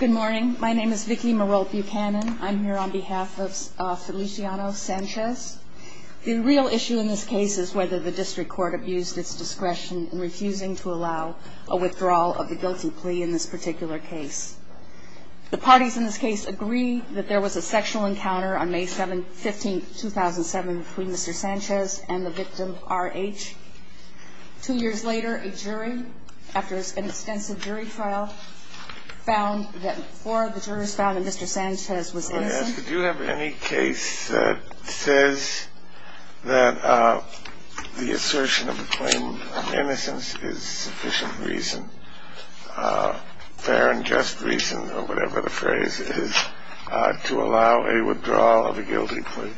Good morning, my name is Vicky Marol Buchanan. I'm here on behalf of Feliciano Sanchez. The real issue in this case is whether the district court abused its discretion in refusing to allow a withdrawal of the guilty plea in this particular case. The parties in this case agree that there was a sexual encounter on May 15, 2007 between Mr. Sanchez and the victim, R.H. Two years later, a jury, after an extensive jury trial, found that Mr. Sanchez was innocent. Do you have any case that says that the assertion of the claim of innocence is sufficient reason, fair and just reason, or whatever the phrase is, to allow a withdrawal of a guilty plea?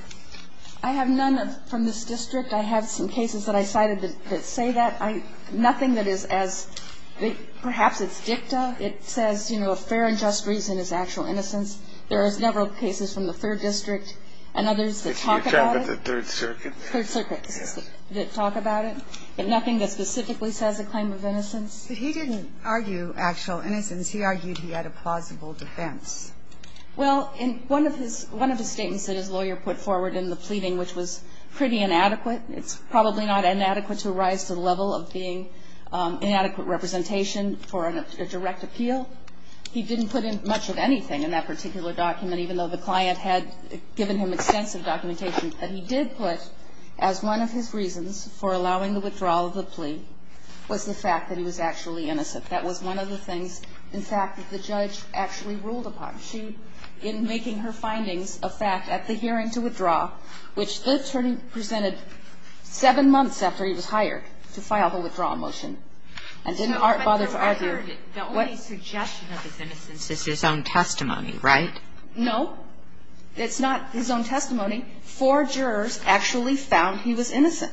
I have none from this district. I have some cases that I cited that say that. Nothing that is as – perhaps it's dicta. It says, you know, a fair and just reason is actual innocence. There are several cases from the Third District and others that talk about it. If you're talking about the Third Circuit? Third Circuit that talk about it. Nothing that specifically says a claim of innocence. But he didn't argue actual innocence. He argued he had a plausible defense. Well, in one of his statements that his lawyer put forward in the pleading, which was pretty inadequate, it's probably not inadequate to rise to the level of being inadequate representation for a direct appeal. He didn't put in much of anything in that particular document, even though the client had given him extensive documentation. But he did put, as one of his reasons for allowing the withdrawal of the plea, was the fact that he was actually innocent. That was one of the things, in fact, that the judge actually ruled upon. She, in making her findings a fact at the hearing to withdraw, which the attorney presented seven months after he was hired to file the withdrawal motion, and didn't bother to argue. No, but the only suggestion of his innocence is his own testimony, right? No. It's not his own testimony. Four jurors actually found he was innocent.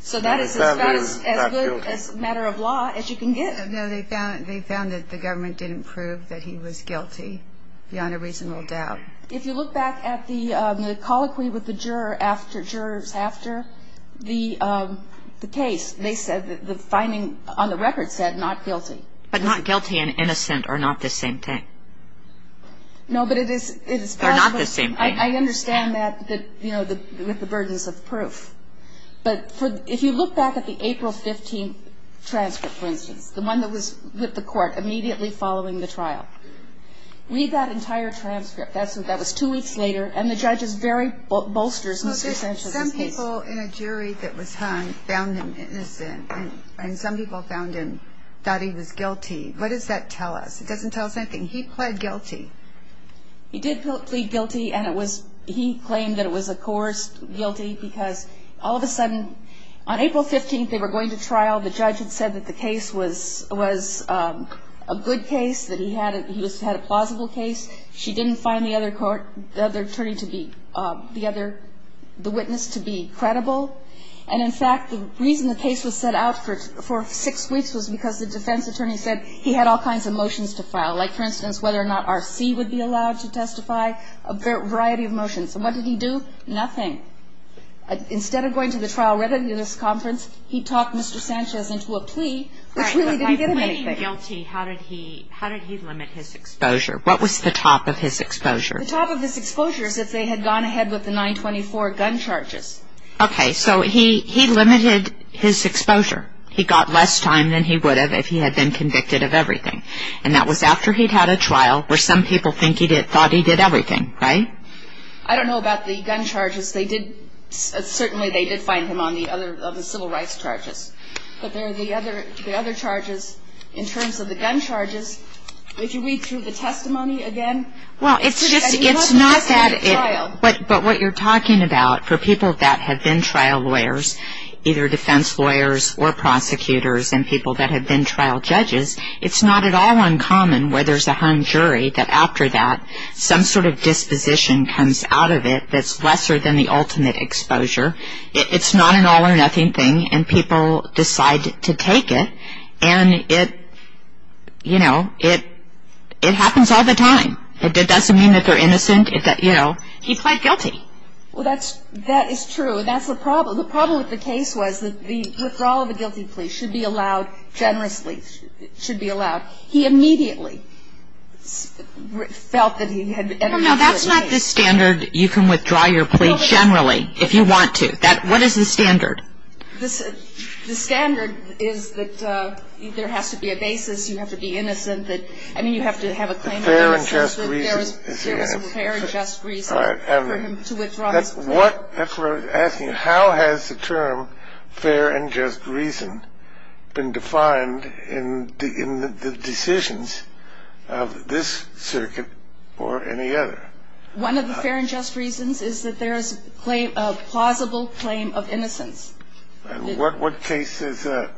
So that is as good a matter of law as you can get. No, they found that the government didn't prove that he was guilty beyond a reasonable doubt. If you look back at the colloquy with the jurors after the case, they said that the finding on the record said not guilty. But not guilty and innocent are not the same thing. No, but it is. They're not the same thing. I understand that, you know, with the burdens of proof. But if you look back at the April 15th transcript, for instance, the one that was with the court immediately following the trial, read that entire transcript. That was two weeks later, and the judge's very bolstered Mr. Sanchez's case. Some people in a jury that was hung found him innocent, and some people found him thought he was guilty. What does that tell us? It doesn't tell us anything. He pled guilty. He did plead guilty, and it was he claimed that it was a coerced guilty, because all of a sudden on April 15th they were going to trial. The judge had said that the case was a good case, that he had a plausible case. She didn't find the other attorney to be the other witness to be credible. And, in fact, the reason the case was set out for six weeks was because the defense attorney said he had all kinds of motions to file, like, for instance, whether or not R.C. would be allowed to testify, a variety of motions. And what did he do? Nothing. Instead of going to the trial readiness conference, he talked Mr. Sanchez into a plea, which really didn't get him anything. But if he's guilty, how did he limit his exposure? What was the top of his exposure? The top of his exposure is if they had gone ahead with the 924 gun charges. Okay. So he limited his exposure. He got less time than he would have if he had been convicted of everything. And that was after he'd had a trial, where some people thought he did everything, right? I don't know about the gun charges. Certainly they did find him on the civil rights charges. But the other charges, in terms of the gun charges, if you read through the testimony again. Well, it's just that it's not that. But what you're talking about, for people that have been trial lawyers, either defense lawyers or prosecutors, and people that have been trial judges, it's not at all uncommon where there's a hung jury, that after that some sort of disposition comes out of it that's lesser than the ultimate exposure. It's not an all-or-nothing thing, and people decide to take it. And it, you know, it happens all the time. It doesn't mean that they're innocent. You know, he pled guilty. Well, that is true. And that's the problem. The problem with the case was that the withdrawal of a guilty plea should be allowed generously. It should be allowed. He immediately felt that he had been guilty. No, that's not the standard. You can withdraw your plea generally if you want to. What is the standard? The standard is that there has to be a basis. You have to be innocent. I mean, you have to have a claim of innocence that there was a fair and just reason for him to withdraw his plea. That's what I was asking. How has the term fair and just reason been defined in the decisions of this circuit or any other? One of the fair and just reasons is that there is a plausible claim of innocence. What case is that?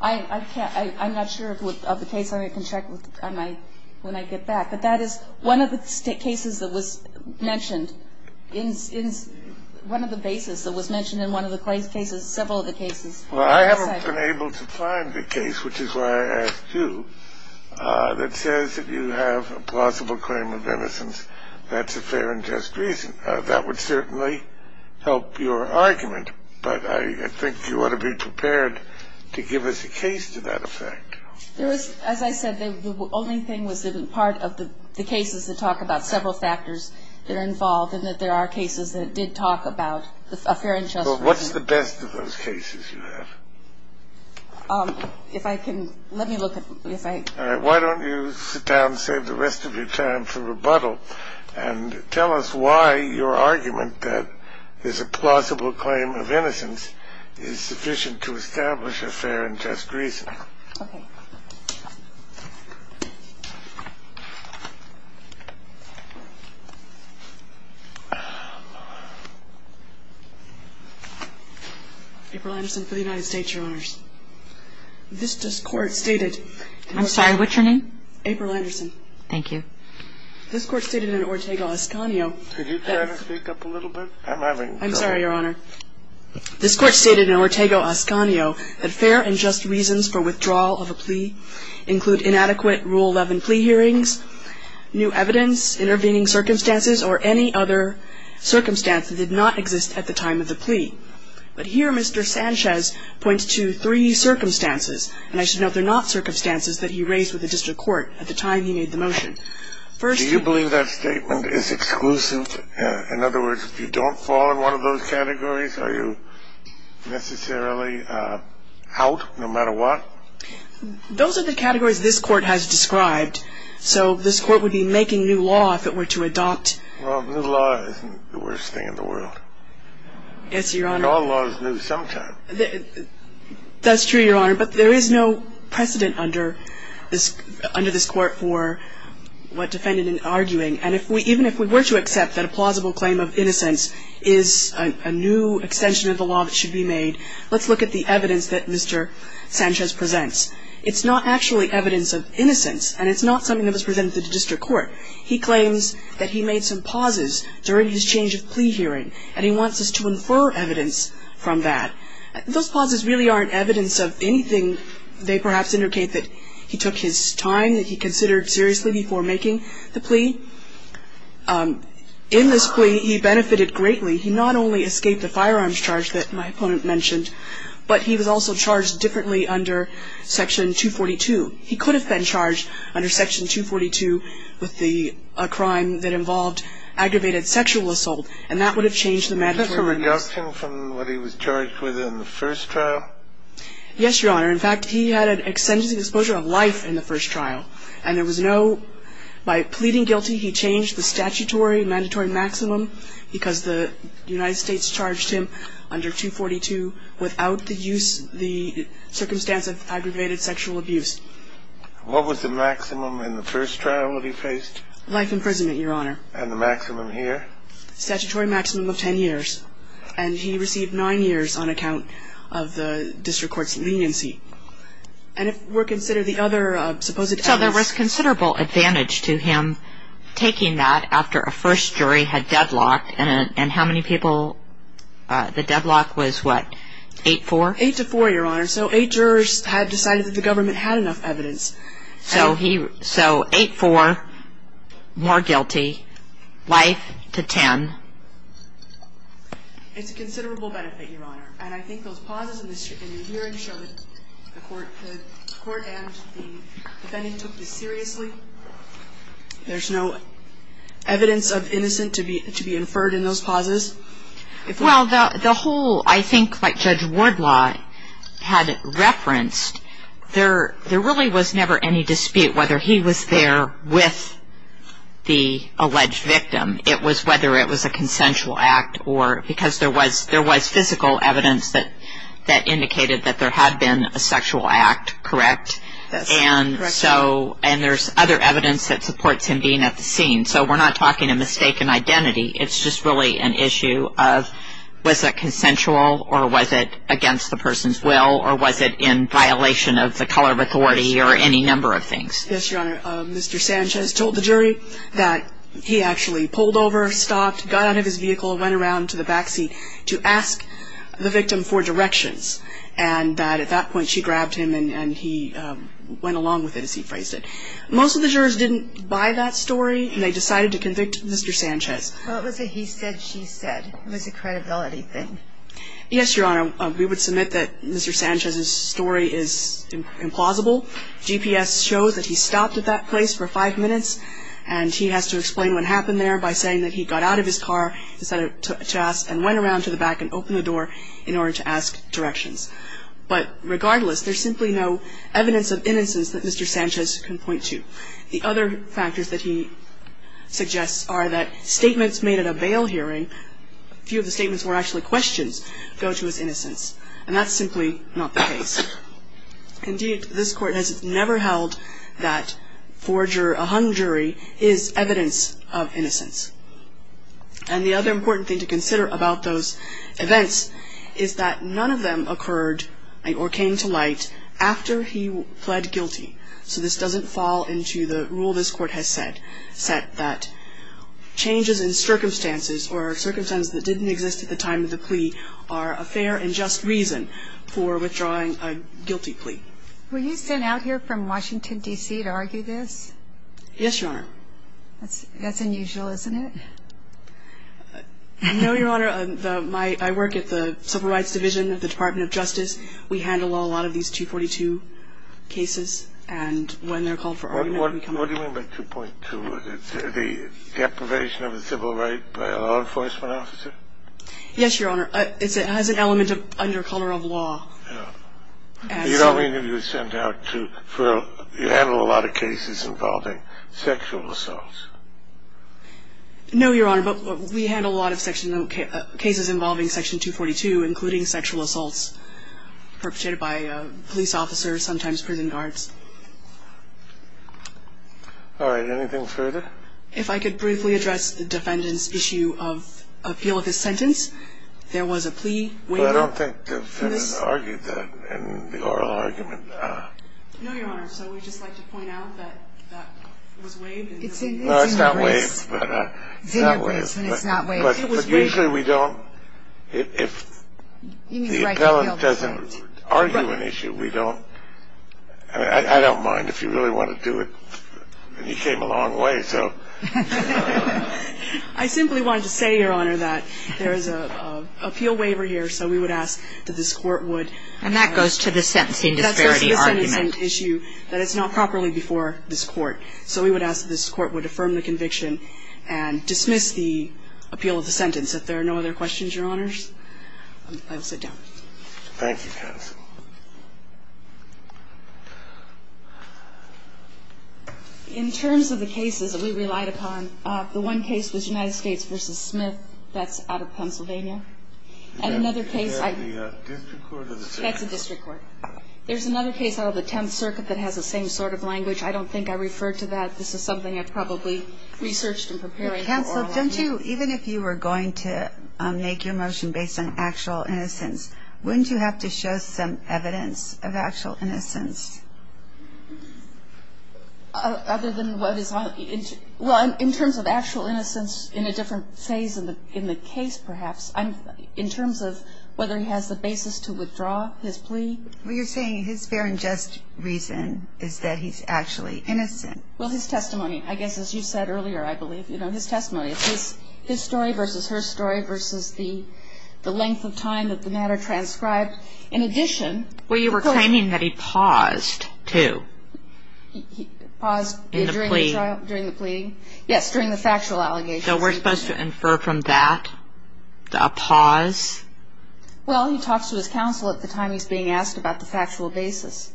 I'm not sure of the case. I can check when I get back. But that is one of the cases that was mentioned in one of the bases that was mentioned in one of the cases, several of the cases. Well, I haven't been able to find a case, which is why I asked you, that says if you have a plausible claim of innocence, that's a fair and just reason. That would certainly help your argument. But I think you ought to be prepared to give us a case to that effect. As I said, the only thing was that part of the cases that talk about several factors that are involved and that there are cases that did talk about a fair and just reason. Well, what's the best of those cases you have? If I can, let me look at, if I. All right. Why don't you sit down and save the rest of your time for rebuttal and tell us why your argument that there's a plausible claim of innocence is sufficient to establish a fair and just reason. Okay. April Anderson for the United States, Your Honors. This court stated. I'm sorry, what's your name? April Anderson. Thank you. This court stated in Ortega-Oscanio. Could you try to speak up a little bit? I'm having trouble. I'm sorry, Your Honor. This court stated in Ortega-Oscanio that fair and just reasons for withdrawal of a plea include inadequate Rule 11 plea hearings, new evidence, intervening circumstances, or any other circumstance that did not exist at the time of the plea. But here Mr. Sanchez points to three circumstances, and I should note they're not circumstances that he raised with the district court at the time he made the motion. First. Do you believe that statement is exclusive? In other words, if you don't fall in one of those categories, are you necessarily out no matter what? Those are the categories this court has described. So this court would be making new law if it were to adopt. Well, new law isn't the worst thing in the world. Yes, Your Honor. And all law is new sometimes. That's true, Your Honor, but there is no precedent under this court for what defendant is arguing. And even if we were to accept that a plausible claim of innocence is a new extension of the law that should be made, let's look at the evidence that Mr. Sanchez presents. It's not actually evidence of innocence, and it's not something that was presented to the district court. He claims that he made some pauses during his change of plea hearing, and he wants us to infer evidence from that. Those pauses really aren't evidence of anything. They perhaps indicate that he took his time, that he considered seriously before making the plea. In this plea, he benefited greatly. He not only escaped the firearms charge that my opponent mentioned, but he was also charged differently under Section 242. He could have been charged under Section 242 with a crime that involved aggravated sexual assault, and that would have changed the mandatory release. Was that a reduction from what he was charged with in the first trial? Yes, Your Honor. In fact, he had an extensive exposure of life in the first trial, and there was no by pleading guilty, he changed the statutory mandatory maximum because the United States charged him under 242 without the use, the circumstance of aggravated sexual abuse. What was the maximum in the first trial that he faced? Life imprisonment, Your Honor. And the maximum here? Statutory maximum of 10 years, and he received nine years on account of the district court's leniency. And if we consider the other supposed evidence. So there was considerable advantage to him taking that after a first jury had deadlocked, and how many people, the deadlock was what, 8-4? 8-4, Your Honor. So eight jurors had decided that the government had enough evidence. So 8-4, more guilty. Life to 10. It's a considerable benefit, Your Honor. And I think those pauses in the hearing show that the court and the defendant took this seriously. There's no evidence of innocent to be inferred in those pauses. Well, the whole, I think, like Judge Wardlaw had referenced, there really was never any dispute whether he was there with the alleged victim. It was whether it was a consensual act or because there was physical evidence that indicated that there had been a sexual act, correct? Yes, correct. And there's other evidence that supports him being at the scene. So we're not talking a mistaken identity. It's just really an issue of was it consensual or was it against the person's will or was it in violation of the color of authority or any number of things. Yes, Your Honor. Mr. Sanchez told the jury that he actually pulled over, stopped, got out of his vehicle, went around to the backseat to ask the victim for directions, and that at that point she grabbed him and he went along with it, as he phrased it. Most of the jurors didn't buy that story, and they decided to convict Mr. Sanchez. Well, it was a he said, she said. It was a credibility thing. Yes, Your Honor. We would submit that Mr. Sanchez's story is implausible. GPS shows that he stopped at that place for five minutes, and he has to explain what happened there by saying that he got out of his car and went around to the back and opened the door in order to ask directions. But regardless, there's simply no evidence of innocence that Mr. Sanchez can point to. The other factors that he suggests are that statements made at a bail hearing, a few of the statements were actually questions, go to his innocence. And that's simply not the case. Indeed, this Court has never held that a hung jury is evidence of innocence. And the other important thing to consider about those events is that none of them occurred or came to light after he pled guilty. So this doesn't fall into the rule this Court has set, that changes in circumstances or circumstances that didn't exist at the time of the plea are a fair and just reason for withdrawing a guilty plea. Were you sent out here from Washington, D.C., to argue this? Yes, Your Honor. That's unusual, isn't it? No, Your Honor. I work at the Civil Rights Division of the Department of Justice. We handle a lot of these 242 cases. And when they're called for argument, we come to them. What do you mean by 2.2? The deprivation of the civil right by a law enforcement officer? Yes, Your Honor. It has an element of under color of law. You don't mean you were sent out to handle a lot of cases involving sexual assaults? No, Your Honor. But we handle a lot of cases involving Section 242, including sexual assaults perpetrated by police officers, sometimes prison guards. All right. Anything further? If I could briefly address the defendant's issue of appeal of his sentence, there was a plea waived. I don't think the defendant argued that in the oral argument. No, Your Honor. So we'd just like to point out that that was waived. No, it's not waived. But usually we don't. If the appellant doesn't argue an issue, we don't. I mean, I don't mind if you really want to do it. You came a long way, so. I simply wanted to say, Your Honor, that there is an appeal waiver here, so we would ask that this Court would. And that goes to the sentencing disparity argument. That goes to the sentencing issue, that it's not properly before this Court. So we would ask that this Court would affirm the conviction and dismiss the appeal of the sentence. If there are no other questions, Your Honors, I will sit down. Thank you, counsel. In terms of the cases that we relied upon, the one case was United States v. Smith. That's out of Pennsylvania. And another case I. Is that the district court or the 10th? That's the district court. There's another case out of the 10th Circuit that has the same sort of language. I don't think I referred to that. This is something I probably researched and prepared for all of you. Counsel, don't you, even if you were going to make your motion based on actual innocence, wouldn't you have to show some evidence of actual innocence? Other than what is, well, in terms of actual innocence in a different phase in the case, perhaps, in terms of whether he has the basis to withdraw his plea. Well, you're saying his fair and just reason is that he's actually innocent. Well, his testimony. I guess as you said earlier, I believe, you know, his testimony. It's his story versus her story versus the length of time that the matter transcribed. In addition. Well, you were claiming that he paused, too. He paused. In the plea. During the trial, during the plea. Yes, during the factual allegation. So we're supposed to infer from that a pause? Well, he talks to his counsel at the time he's being asked about the factual basis.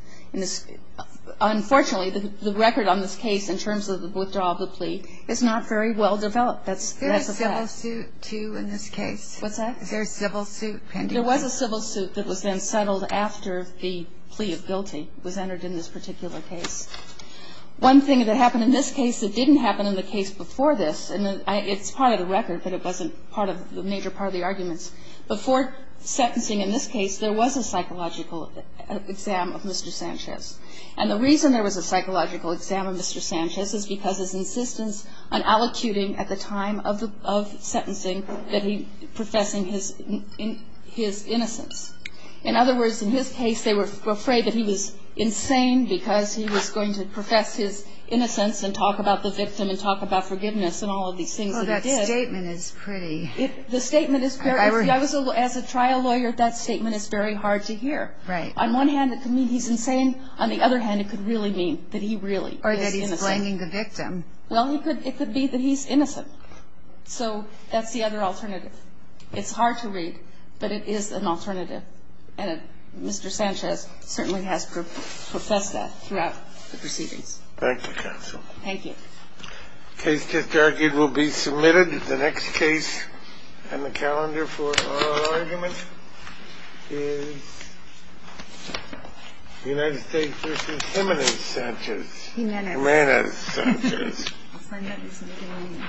Unfortunately, the record on this case in terms of the withdrawal of the plea is not very well developed. That's a fact. Is there a civil suit, too, in this case? What's that? Is there a civil suit pending? There was a civil suit that was then settled after the plea of guilty was entered in this particular case. One thing that happened in this case that didn't happen in the case before this, and it's part of the record, but it wasn't part of the major part of the arguments. Before sentencing in this case, there was a psychological exam of Mr. Sanchez. And the reason there was a psychological exam of Mr. Sanchez is because his insistence on allocuting at the time of sentencing that he professing his innocence. In other words, in his case, they were afraid that he was insane because he was going to profess his innocence and talk about the victim and talk about forgiveness and all of these things that he did. Oh, that statement is pretty. The statement is very – as a trial lawyer, that statement is very hard to hear. Right. On one hand, it could mean he's insane. On the other hand, it could really mean that he really is innocent. Or that he's blaming the victim. Well, it could be that he's innocent. So that's the other alternative. It's hard to read, but it is an alternative. And Mr. Sanchez certainly has professed that throughout the proceedings. Thank you, Counsel. Thank you. The case just argued will be submitted. The next case on the calendar for oral argument is the United States v. Jimenez Sanchez. Jimenez. Jimenez Sanchez. I'll sign that as an opinion.